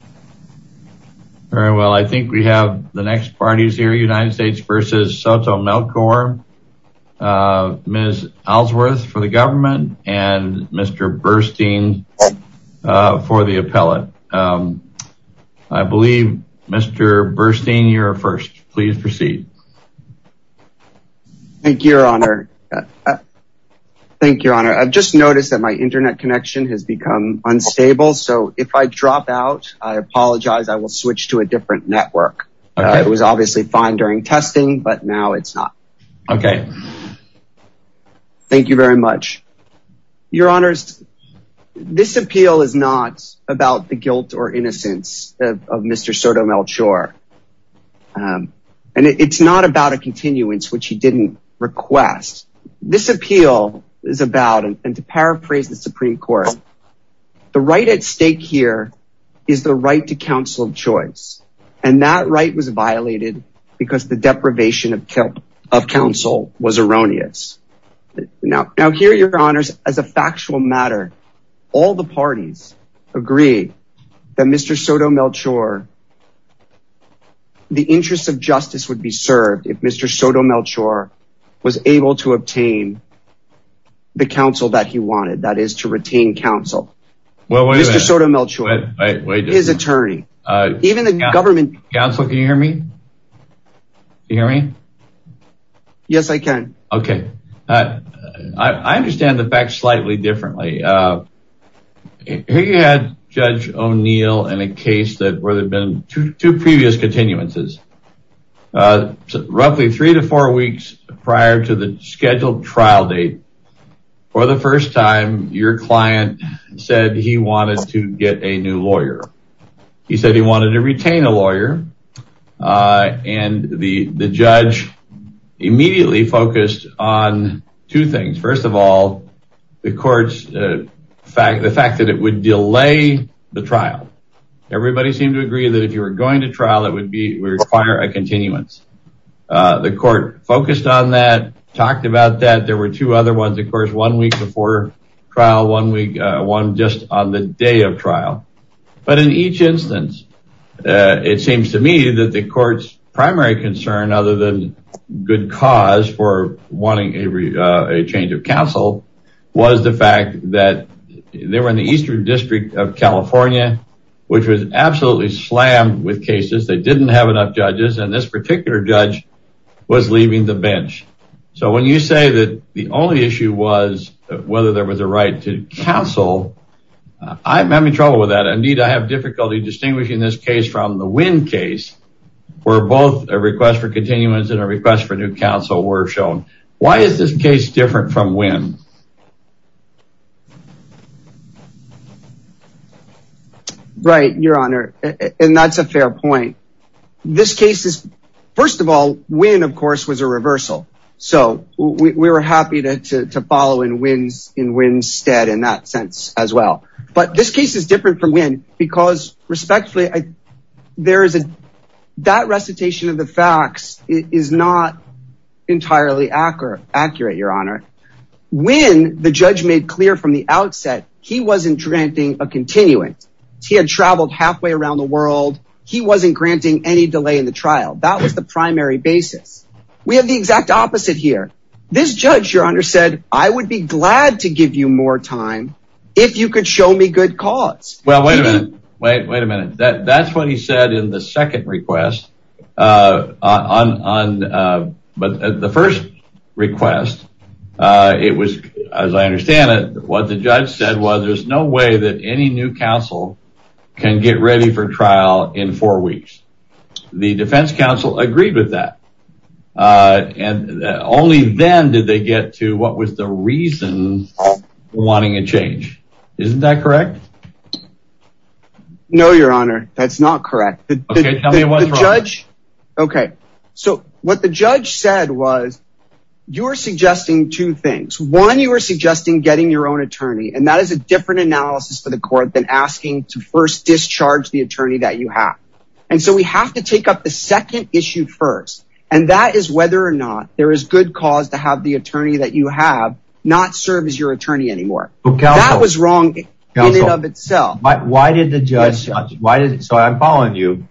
Ms. Ellsworth for the government and Mr. Burstein for the appellate. I believe Mr. Burstein you're first. Please proceed. Thank you, your honor. Thank you, your honor. I've just noticed that my internet connection has become unstable. So if I drop out, I apologize. I will switch to a different network. It was obviously fine during testing, but now it's not. OK. Thank you very much, your honors. This appeal is not about the guilt or innocence of Mr. Soto-Melchor. And it's not about a continuance, which he didn't request. This appeal is about, and to paraphrase the Supreme Court, the right at stake here is the right to counsel of choice. And that right was violated because the deprivation of counsel was erroneous. Now, here, your honors, as a factual matter, all the parties agree that Mr. Soto-Melchor, the interest of justice would be served if Mr. Soto-Melchor was able to obtain the counsel that he wanted, that is to retain counsel. Mr. Soto-Melchor, his attorney, even the government... Counselor, can you hear me? Can you hear me? Yes, I can. OK. I understand the facts slightly differently. He had Judge O'Neill in a case where there had been two previous continuances. Roughly three to four weeks prior to the scheduled trial date, for the first time, your client said he wanted to get a new lawyer. He said he wanted to retain a lawyer, and the judge immediately focused on two things. First of all, the fact that it would delay the trial. Everybody seemed to agree that if you were going to trial, it would require a continuance. The court focused on that, talked about that. There were two other ones, of course, one week before trial, one just on the day of trial. But in each instance, it seems to me that the court's primary concern, other than good cause for wanting a change of counsel, was the fact that they were in the Eastern District of California, which was absolutely slammed with cases. They didn't have enough judges, and this particular judge was leaving the bench. So when you say that the only issue was whether there was a right to counsel, I'm having trouble with that. Indeed, I have difficulty distinguishing this case from the Wynn case, where both a request for continuance and a request for new counsel were shown. Why is this case different from Wynn? Right, your honor, and that's a fair point. First of all, Wynn, of course, was a reversal, so we were happy to follow in Wynn's stead in that sense as well. But this case is different from Wynn because, respectfully, that recitation of the facts is not entirely accurate, your honor. Wynn, the judge made clear from the outset, he wasn't granting a continuance. He had traveled halfway around the world. He wasn't granting any delay in the trial. That was the primary basis. We have the exact opposite here. This judge, your honor, said, I would be glad to give you more time if you could show me good cause. Well, wait a minute. Wait a minute. That's what he said in the second request. But the first request, it was, as I understand it, what the judge said was there's no way that any new counsel can get ready for trial in four weeks. The defense counsel agreed with that. And only then did they get to what was the reason for wanting a change. Isn't that correct? No, your honor. That's not correct. The judge. Okay. So what the judge said was you were suggesting two things. One, you were suggesting getting your own attorney. And that is a different analysis for the court than asking to first discharge the attorney that you have. And so we have to take up the second issue first. And that is whether or not there is good cause to have the attorney that you have not serve as your attorney anymore. That was wrong in and of itself. So I'm following you.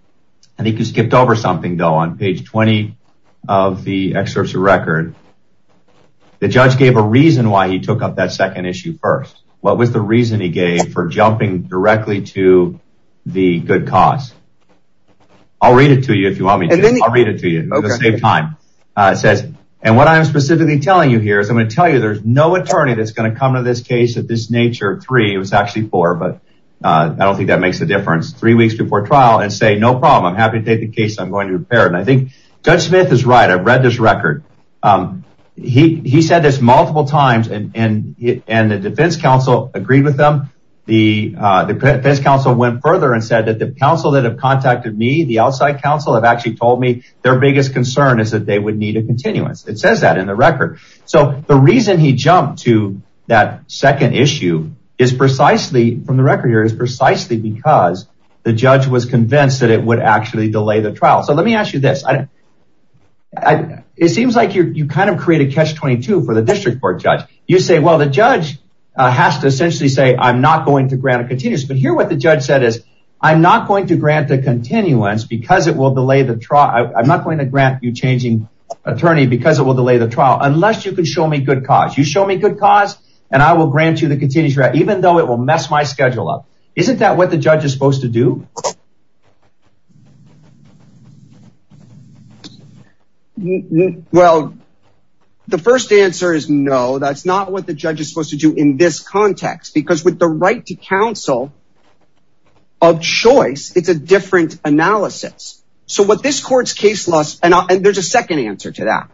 I think you skipped over something, though. On page 20 of the excerpt of the record, the judge gave a reason why he took up that second issue first. What was the reason he gave for jumping directly to the good cause? I'll read it to you if you want me to. I'll read it to you to save time. It says, and what I'm specifically telling you here is I'm going to tell you there's no attorney that's going to come to this case of this nature three. It was actually four. But I don't think that makes a difference. Three weeks before trial and say, no problem. I'm happy to take the case. I'm going to repair it. And I think Judge Smith is right. I've read this record. He said this multiple times. And the defense counsel agreed with them. The defense counsel went further and said that the counsel that have contacted me, the outside counsel, have actually told me their biggest concern is that they would need a continuance. It says that in the record. So the reason he jumped to that second issue is precisely, from the record here, is precisely because the judge was convinced that it would actually delay the trial. So let me ask you this. It seems like you kind of create a catch-22 for the district court judge. You say, well, the judge has to essentially say I'm not going to grant a continuance. But here what the judge said is I'm not going to grant a continuance because it will delay the trial. I'm not going to grant you changing attorney because it will delay the trial unless you can show me good cause. You show me good cause and I will grant you the continuance even though it will mess my schedule up. Isn't that what the judge is supposed to do? Well, the first answer is no. That's not what the judge is supposed to do in this context. Because with the right to counsel of choice, it's a different analysis. So what this court's case loss, and there's a second answer to that.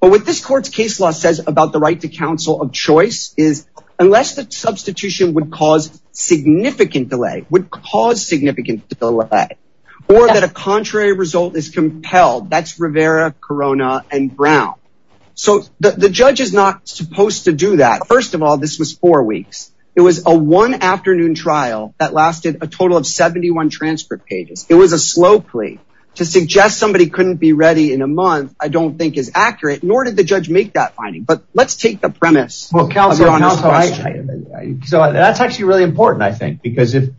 But what this court's case law says about the right to counsel of choice is unless the substitution would cause significant delay, would cause significant delay, or that a contrary result is compelled, that's Rivera, Corona, and Brown. So the judge is not supposed to do that. Well, first of all, this was four weeks. It was a one afternoon trial that lasted a total of 71 transfer pages. It was a slow plea to suggest somebody couldn't be ready in a month I don't think is accurate, nor did the judge make that finding. But let's take the premise. So that's actually really important, I think, because if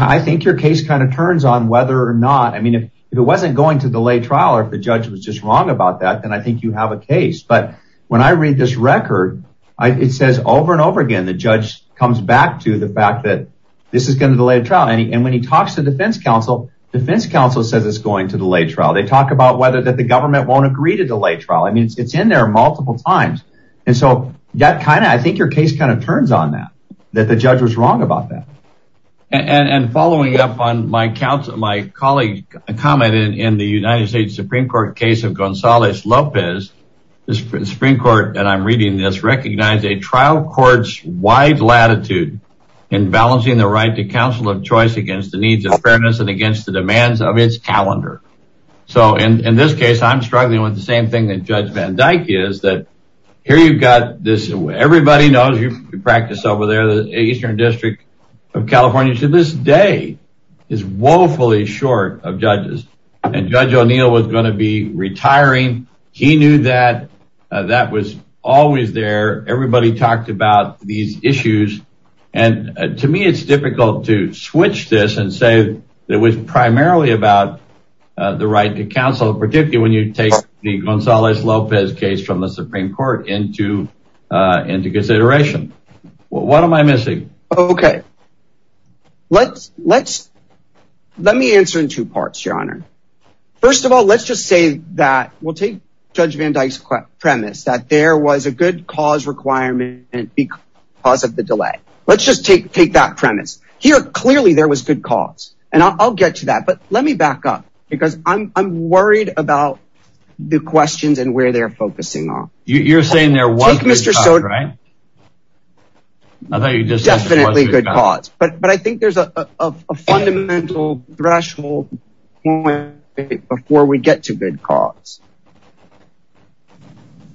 I think your case kind of turns on whether or not, I mean, if it wasn't going to delay trial or if the judge was just wrong about that, then I think you have a case. But when I read this record, it says over and over again, the judge comes back to the fact that this is going to delay trial. And when he talks to defense counsel, defense counsel says it's going to delay trial. They talk about whether that the government won't agree to delay trial. I mean, it's in there multiple times. And so that kind of I think your case kind of turns on that, that the judge was wrong about that. And following up on my colleague's comment in the United States Supreme Court case of Gonzalez-Lopez, the Supreme Court, and I'm reading this, recognized a trial court's wide latitude in balancing the right to counsel of choice against the needs of fairness and against the demands of its calendar. So in this case, I'm struggling with the same thing that Judge Van Dyke is, that here you've got this. Everybody knows you practice over there, the Eastern District of California to this day is woefully short of judges. And Judge O'Neill was going to be retiring. He knew that that was always there. Everybody talked about these issues. And to me, it's difficult to switch this and say it was primarily about the right to counsel, particularly when you take the Gonzalez-Lopez case from the Supreme Court into consideration. What am I missing? OK. Let's let's let me answer in two parts, Your Honor. First of all, let's just say that we'll take Judge Van Dyke's premise that there was a good cause requirement because of the delay. Let's just take take that premise here. Clearly, there was good cause. And I'll get to that. But let me back up because I'm worried about the questions and where they're focusing on. You're saying there was Mr. Stone, right? Definitely good cause. But I think there's a fundamental threshold before we get to good cause.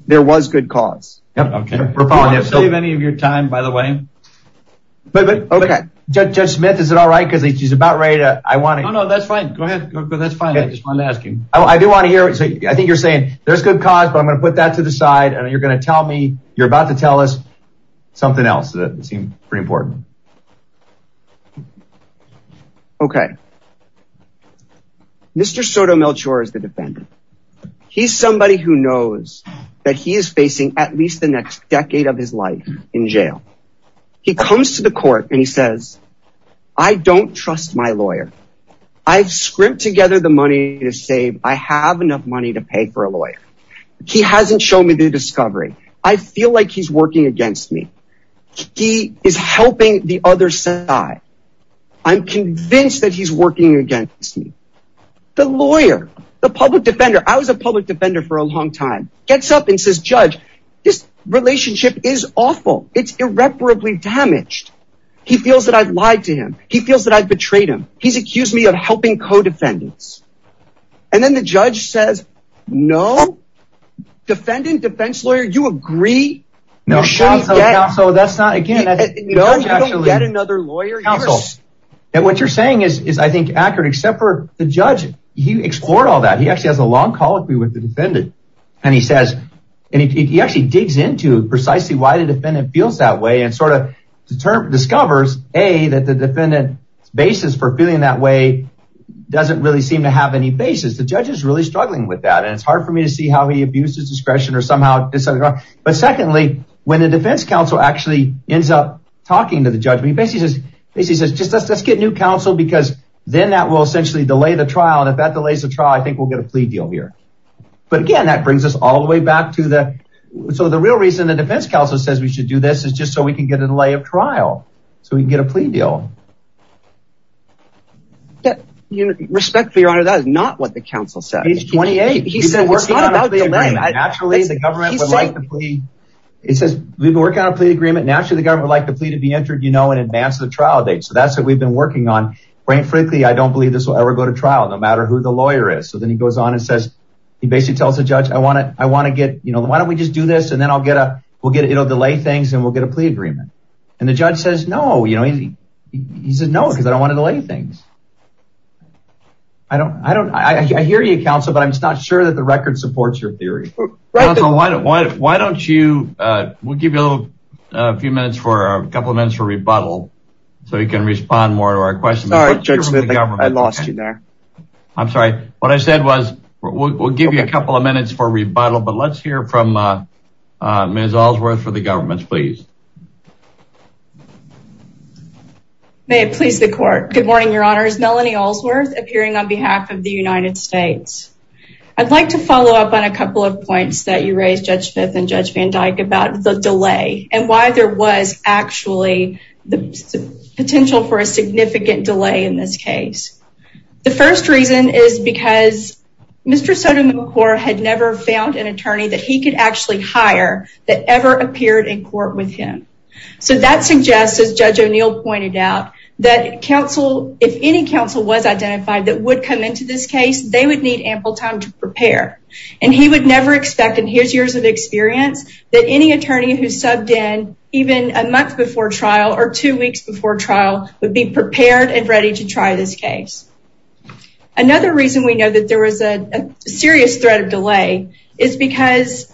There was good cause. Save any of your time, by the way. But Judge Smith, is it all right? Because he's about ready to I want to know. That's fine. Go ahead. That's fine. I just want to ask him. I do want to hear it. I think you're saying there's good cause. But I'm going to put that to the side and you're going to tell me you're about to tell us something else that seemed pretty important. OK. Mr. Soto Melchior is the defendant. He's somebody who knows that he is facing at least the next decade of his life in jail. He comes to the court and he says, I don't trust my lawyer. I've scrimped together the money to save. I have enough money to pay for a lawyer. He hasn't shown me the discovery. I feel like he's working against me. He is helping the other side. I'm convinced that he's working against me. The lawyer, the public defender. I was a public defender for a long time. Gets up and says, judge, this relationship is awful. It's irreparably damaged. He feels that I've lied to him. He feels that I've betrayed him. He's accused me of helping co-defendants. And then the judge says, no. Defendant, defense lawyer, you agree. So that's not again. No, you don't get another lawyer. And what you're saying is, I think, accurate, except for the judge. He explored all that. He actually has a long call with the defendant. And he actually digs into precisely why the defendant feels that way. And sort of discovers, A, that the defendant's basis for feeling that way doesn't really seem to have any basis. The judge is really struggling with that. And it's hard for me to see how he abuses discretion or somehow. But secondly, when the defense counsel actually ends up talking to the judge. He basically says, let's get new counsel. Because then that will essentially delay the trial. And if that delays the trial, I think we'll get a plea deal here. But again, that brings us all the way back to the. So the real reason the defense counsel says we should do this is just so we can get a delay of trial. So we can get a plea deal. Respect for your honor, that is not what the counsel said. He's 28. He said it's not about the delay. Naturally, the government would like the plea. It says, we've been working on a plea agreement. Naturally, the government would like the plea to be entered, you know, in advance of the trial date. So that's what we've been working on. Frank, frankly, I don't believe this will ever go to trial, no matter who the lawyer is. So then he goes on and says, he basically tells the judge, I want to, I want to get, you know, why don't we just do this? And then I'll get a, we'll get it. It'll delay things and we'll get a plea agreement. And the judge says, no, you know, he says, no, because I don't want to delay things. I don't, I don't, I hear you counsel, but I'm just not sure that the record supports your theory. Why don't you, we'll give you a few minutes for a couple of minutes for rebuttal so you can respond more to our questions. I lost you there. I'm sorry. What I said was we'll give you a couple of minutes for rebuttal, but let's hear from Ms. Allsworth for the government's pleas. May it please the court. Good morning. Your honor is Melanie Allsworth appearing on behalf of the United States. I'd like to follow up on a couple of points that you raised judge Smith and judge Van Dyke about the delay and why there was actually the potential for a significant delay in this case. The first reason is because Mr. Sotomayor had never found an attorney that he could actually hire that ever appeared in court with him. So that suggests as judge O'Neill pointed out that counsel, if any counsel was identified that would come into this case, they would need ample time to prepare. And he would never expect in his years of experience that any attorney who subbed in even a month before trial or two weeks before trial would be Another reason we know that there was a serious threat of delay is because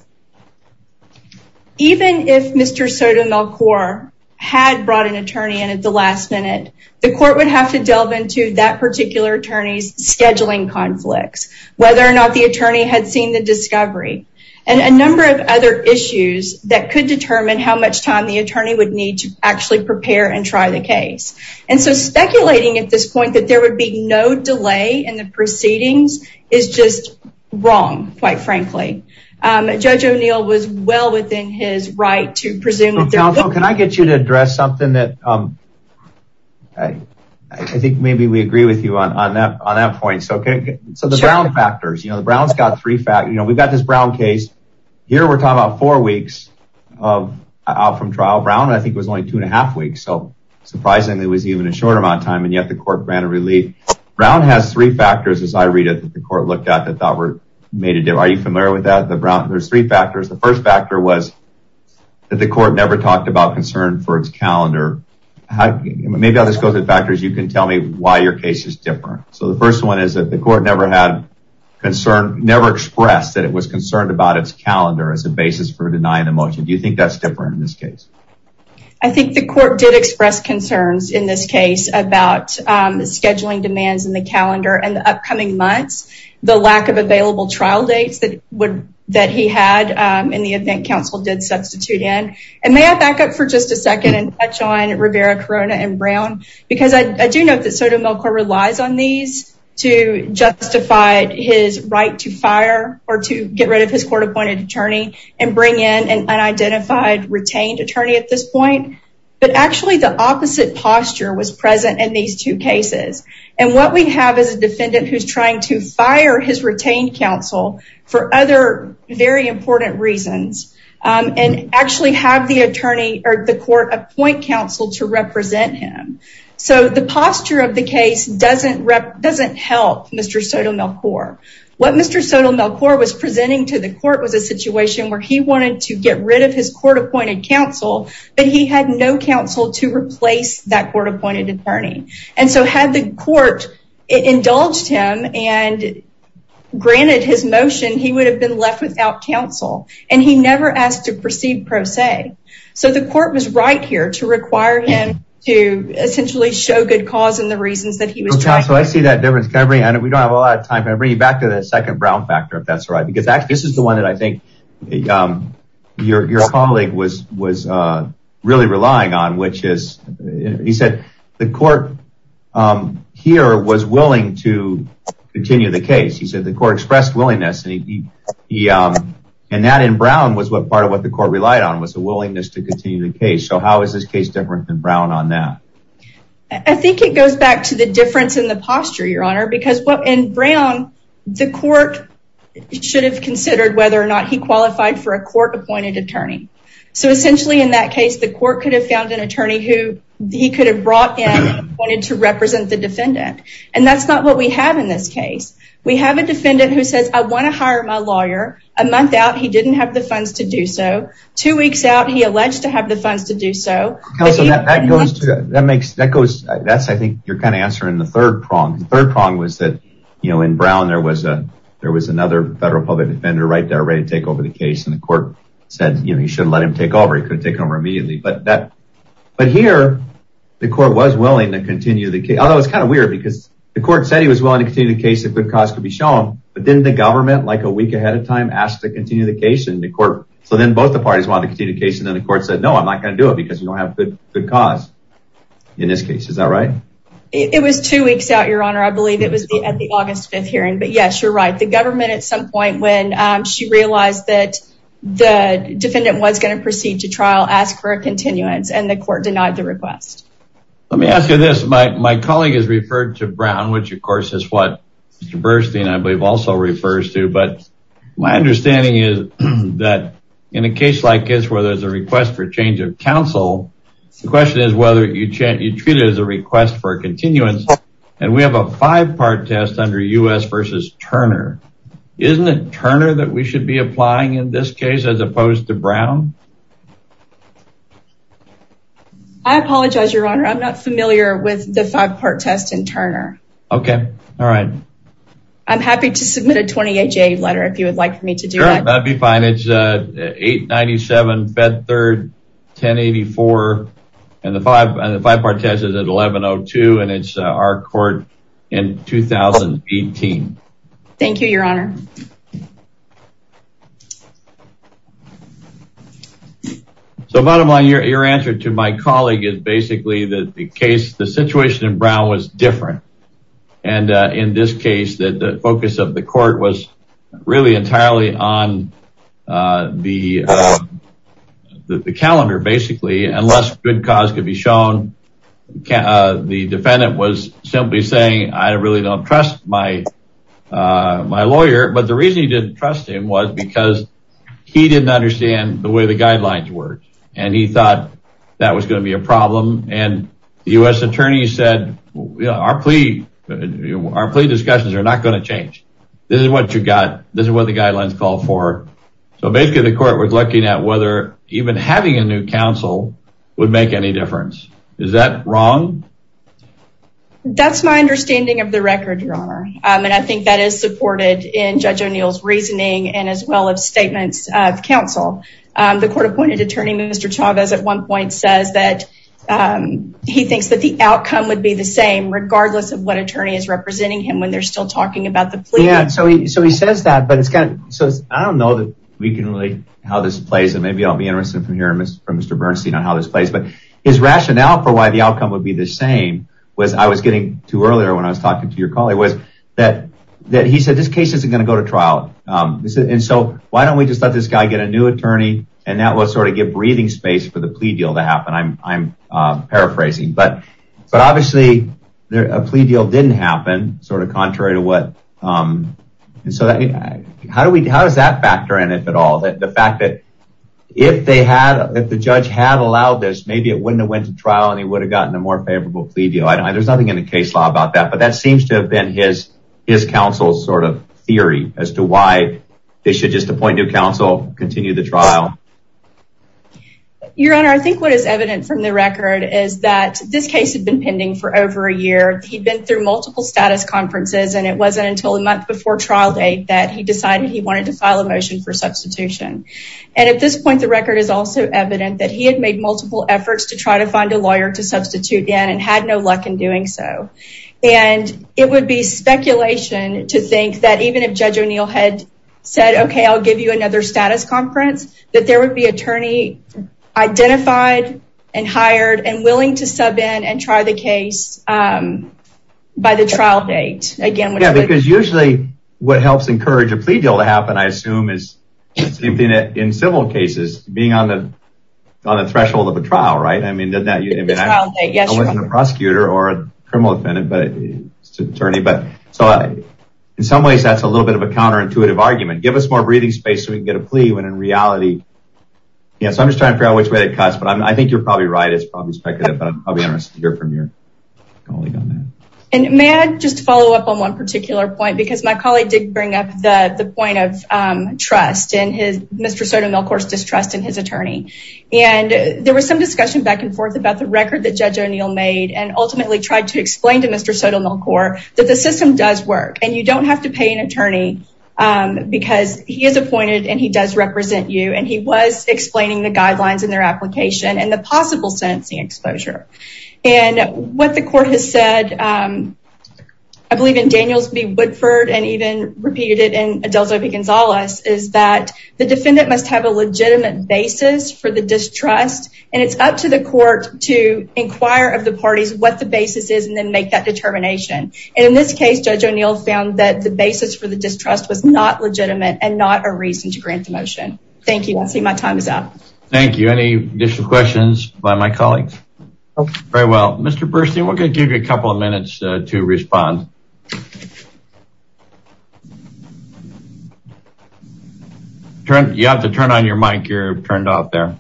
even if Mr. Sotomayor had brought an attorney in at the last minute, the court would have to delve into that particular attorney's scheduling conflicts, whether or not the attorney had seen the discovery, and a number of other issues that could determine how much time the attorney would need to actually prepare and try the case. And so speculating at this point that there would be no delay in the proceedings is just wrong. Quite frankly, judge O'Neill was well within his right to presume. Can I get you to address something that I think maybe we agree with you on that, on that point. So, okay. So the Brown factors, you know, the Brown's got three facts, you know, we've got this Brown case here. We're talking about four weeks of out from trial Brown. I think it was only two and a half weeks. So surprisingly it was even a short amount of time and yet the court ran a relief. Brown has three factors as I read it, that the court looked at that thought were made a difference. Are you familiar with that? The Brown, there's three factors. The first factor was that the court never talked about concern for its calendar. Maybe I'll just go through the factors. You can tell me why your case is different. So the first one is that the court never had concern, never expressed that it was concerned about its calendar as a basis for denying the motion. Do you think that's different in this case? I think the court did express concerns in this case about scheduling demands in the calendar and the upcoming months, the lack of available trial dates that would, that he had in the event council did substitute in. And may I back up for just a second and touch on Rivera, Corona and Brown, because I do know that Sotomayor court relies on these to justify his right to fire or to get rid of his court appointed attorney and bring in an identified retained attorney at this point. But actually the opposite posture was present in these two cases. And what we have is a defendant who's trying to fire his retained counsel for other very important reasons and actually have the attorney or the court appoint counsel to represent him. So the posture of the case doesn't rep doesn't help Mr. Soto Melchor. What Mr. Soto Melchor was presenting to the court was a situation where he wanted to get rid of his court appointed counsel, but he had no counsel to replace that court appointed attorney. And so had the court indulged him and granted his motion, he would have been left without counsel. And he never asked to proceed pro se. So the court was right here to require him to essentially show good cause and the reasons that he was trying. So I see that difference covering, and we don't have a lot of time to bring you back to the second Brown factor, if that's right, because this is the one that I think your, your colleague was, was really relying on, which is, he said, the court here was willing to continue the case. He said the court expressed willingness and he, he, and that in Brown was what part of what the court relied on was the willingness to continue the case. So how is this case different than Brown on that? I think it goes back to the difference in the posture, your honor, because what in Brown, the court should have considered whether or not he qualified for a court appointed attorney. So essentially in that case, the court could have found an attorney who he could have brought in, wanted to represent the defendant. And that's not what we have in this case. We have a defendant who says, I want to hire my lawyer a month out. He didn't have the funds to do so two weeks out. He alleged to have the funds to do so. That makes that goes. That's I think you're kind of answering the third prong. The third prong was that, you know, in Brown, there was a, there was another federal public defender right there ready to take over the case. And the court said, you know, he shouldn't let him take over. He couldn't take over immediately, but that, but here. The court was willing to continue the case. Although it's kind of weird because the court said he was willing to continue the case. The good cause could be shown, but then the government like a week ahead of time asked to continue the case and the court. So then both the parties wanted to continue the case. And then the court said, no, I'm not going to do it because you don't have good cause in this case. Is that right? It was two weeks out, your honor. I believe it was at the August 5th hearing, but yes, you're right. The government at some point when she realized that the defendant was going to proceed to trial, ask for a continuance and the court denied the request. Let me ask you this. My, my colleague has referred to Brown, which of course is what. Mr. Burstein, I believe also refers to, but my understanding is that in a case like this, where there's a request for change of counsel, the question is whether you chant you treat it as a request for a continuance. And we have a five part test under us versus Turner. Isn't it Turner that we should be applying in this case, as opposed to Brown. I apologize, your honor. I'm not familiar with the five part test in Turner. Okay. All right. I'm happy to submit a 28 day letter. If you would like me to do that. That'd be fine. And it's a eight 97 fed third, 10 84. And the five and the five part test is at 11 Oh two. And it's our court in 2018. Thank you, your honor. So bottom line, your, your answer to my colleague is basically that the case, the situation in Brown was different. And in this case that the focus of the court was really entirely on the calendar, basically, unless good cause could be shown the defendant was simply saying, I really don't trust my, my lawyer, but the reason he didn't trust him was because he didn't understand the way the guidelines work. And he thought that was going to be a problem. And the U S attorney said, you know, our plea, our plea discussions are not going to change. This is what you got. This is what the guidelines call for. So basically the court was looking at whether even having a new council would make any difference. Is that wrong? That's my understanding of the record, your honor. And I think that is supported in judge O'Neill's reasoning. And as well as statements of counsel, the court appointed attorney, Mr. Chavez at one point says that he thinks that the outcome would be the same, regardless of what attorney is representing him when they're still talking about the plea. So he says that, but it's kind of, so I don't know that we can really, how this plays. And maybe I'll be interested from hearing from Mr. Bernstein on how this plays, but his rationale for why the outcome would be the same was I was getting to earlier when I was talking to your colleague was that, that he said, this case isn't going to go to trial. And so why don't we just let this guy get a new attorney? And that will sort of give breathing space for the plea deal to happen. I'm, I'm paraphrasing, but, but obviously there, a plea deal didn't happen sort of contrary to what, and so that, how do we, how does that factor in it at all? The fact that if they had, if the judge had allowed this, maybe it wouldn't have went to trial and he would have gotten a more favorable plea deal. I know there's nothing in the case law about that, but that seems to have been his, his counsel's sort of theory as to why they should just appoint new counsel, continue the trial. Your Honor, I think what is evident from the record is that this case had been pending for over a year. He'd been through multiple status conferences and it wasn't until a month before trial date that he decided he wanted to file a motion for substitution. And at this point, the record is also evident that he had made multiple efforts to try to find a lawyer to substitute in and had no luck in doing so. And it would be speculation to think that even if judge O'Neill had, said, okay, I'll give you another status conference, that there would be attorney identified and hired and willing to sub in and try the case by the trial date again. Yeah. Because usually what helps encourage a plea deal to happen, I assume is in civil cases being on the, on the threshold of a trial, right? I mean, I wasn't a prosecutor or a criminal defendant, but attorney, but so in some ways that's a little bit of a counterintuitive argument. Give us more breathing space so we can get a plea when in reality. Yeah. So I'm just trying to figure out which way that cuts, but I think you're probably right. It's probably speculative, but I'll be interested to hear from your colleague on that. And may I just follow up on one particular point, because my colleague did bring up the point of trust and his Mr. Soto-Milkor's distrust in his attorney. And there was some discussion back and forth about the record that judge O'Neill made and ultimately tried to explain to Mr. Soto-Milkor that the system does work and you don't have to pay an attorney because he is appointed and he does represent you. And he was explaining the guidelines in their application and the possible sentencing exposure. And what the court has said, I believe in Daniels v. Woodford and even repeated it in Adelzo v. Gonzalez is that the defendant must have a legitimate basis for the distrust. And it's up to the court to inquire of the parties, what the basis is, and then make that determination. And in this case, judge O'Neill found that the basis for the distrust was not legitimate and not a reason to grant the motion. Thank you. I see my time is up. Thank you. Any additional questions by my colleagues? Very well. Mr. Burstein, we're going to give you a couple of minutes to respond. You have to turn on your mic. You're turned off there.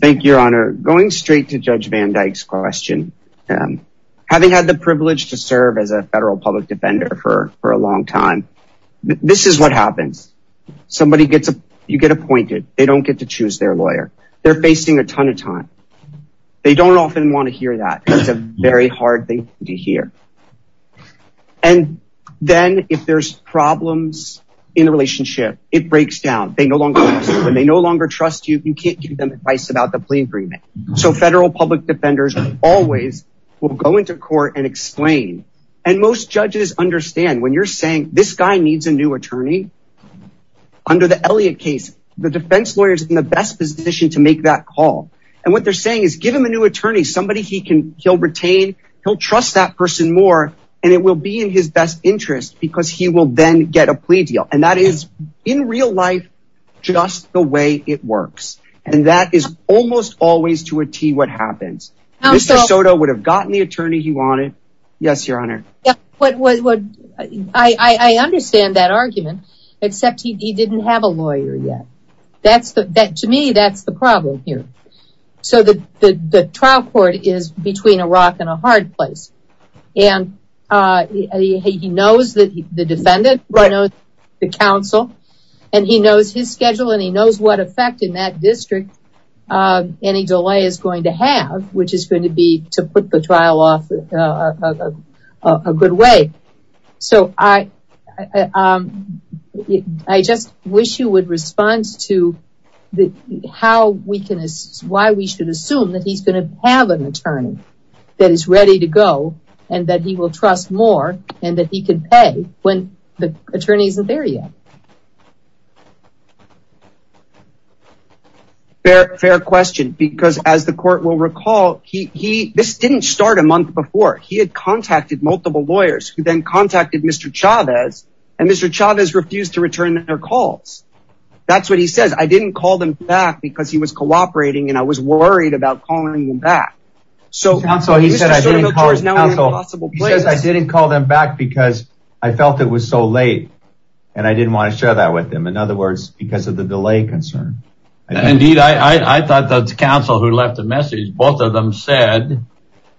Thank you, I'm going to respond to judge Van Dyke's question. Having had the privilege to serve as a federal public defender for, for a long time, this is what happens. Somebody gets, you get appointed. They don't get to choose their lawyer. They're facing a ton of time. They don't often want to hear that. It's a very hard thing to hear. And then if there's problems in the relationship, it breaks down. They no longer, they no longer trust you. You can't give them advice about the plea agreement. So federal public defenders always will go into court and explain. And most judges understand when you're saying this guy needs a new attorney. Under the Elliott case, the defense lawyers in the best position to make that call. And what they're saying is give him a new attorney, somebody he can kill, retain he'll trust that person more. And it will be in his best interest because he will then get a plea deal. And that is in real life, just the way it works. And that is almost always to a T what happens. Mr. Soto would have gotten the attorney he wanted. Yes, your honor. Yeah. What was, what I understand that argument, except he didn't have a lawyer yet. That's the, that to me, that's the problem here. So the, the, the trial court is between a rock and a hard place. And, uh, he, he, he knows that the defendant. Right. The council and he knows his schedule and he knows what effect in that district. Um, any delay is going to have, which is going to be to put the trial off. Uh, uh, uh, a good way. So I, I, um, I just wish you would respond to. How we can, why we should assume that he's going to have an attorney. That is ready to go and that he will trust more and that he can pay when the attorney isn't there yet. Fair, fair question, because as the court will recall, he, he, this didn't start a month before he had contacted multiple lawyers who then contacted Mr. Chavez and Mr. Chavez refused to return their calls. That's what he says. I didn't call them back because he was cooperating and I was worried about calling them back. So, so he said, I didn't call them back because. I felt it was so late and I didn't want to share that with them. In other words, because of the delay concern. Indeed. I thought that the council who left the message, both of them said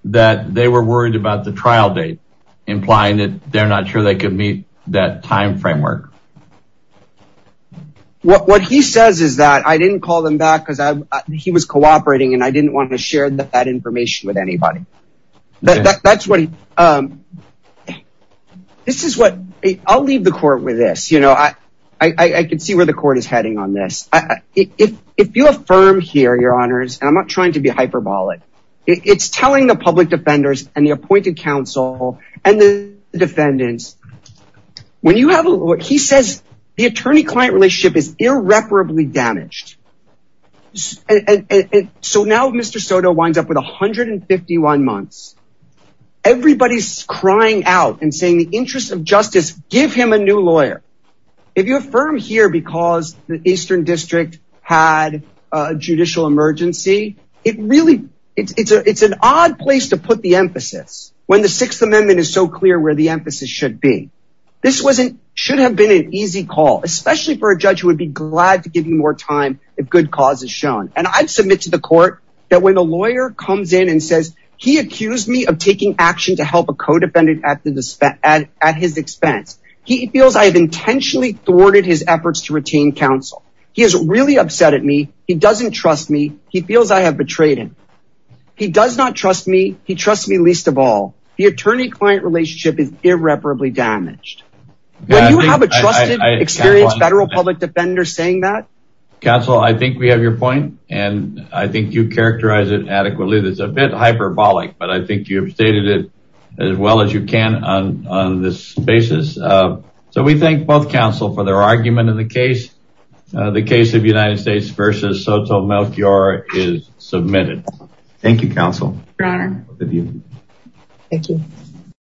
that they were worried about the trial date, implying that they're not sure they could meet that timeframe. What he says is that I didn't call them back. Cause I, he was cooperating and I didn't want to share that information with anybody. That's what he, um, this is what I'll leave the court with this. You know, I, I can see where the court is heading on this. If you affirm here, your honors, and I'm not trying to be hyperbolic. It's telling the public defenders and the appointed council and the defendants. When you have, he says the attorney client relationship is irreparably damaged. So now Mr. Soto winds up with 151 months. Everybody's crying out and saying the interest of justice, give him a new lawyer. If you affirm here, because the Eastern district had a judicial emergency, it really it's a, it's an odd place to put the emphasis when the sixth amendment is so clear where the emphasis should be. This wasn't should have been an easy call, especially for a judge who would be glad to give you more time. If good cause is shown. And I'd submit to the court that when a lawyer comes in and says he accused me of taking action to help a co-defendant at the, at his expense, he feels I have intentionally thwarted his efforts to retain counsel. He is really upset at me. He doesn't trust me. He feels I have betrayed him. He does not trust me. He trusts me least of all the attorney client relationship is irreparably damaged. When you have a trusted, experienced federal public defender saying that. Counsel, I think we have your point and I think you characterize it adequately. That's a bit hyperbolic, but I think you have stated it as well as you can on, on this basis. So we thank both counsel for their argument in the case, the case of United States versus Soto Melchior is submitted. Thank you. Counsel. Thank you.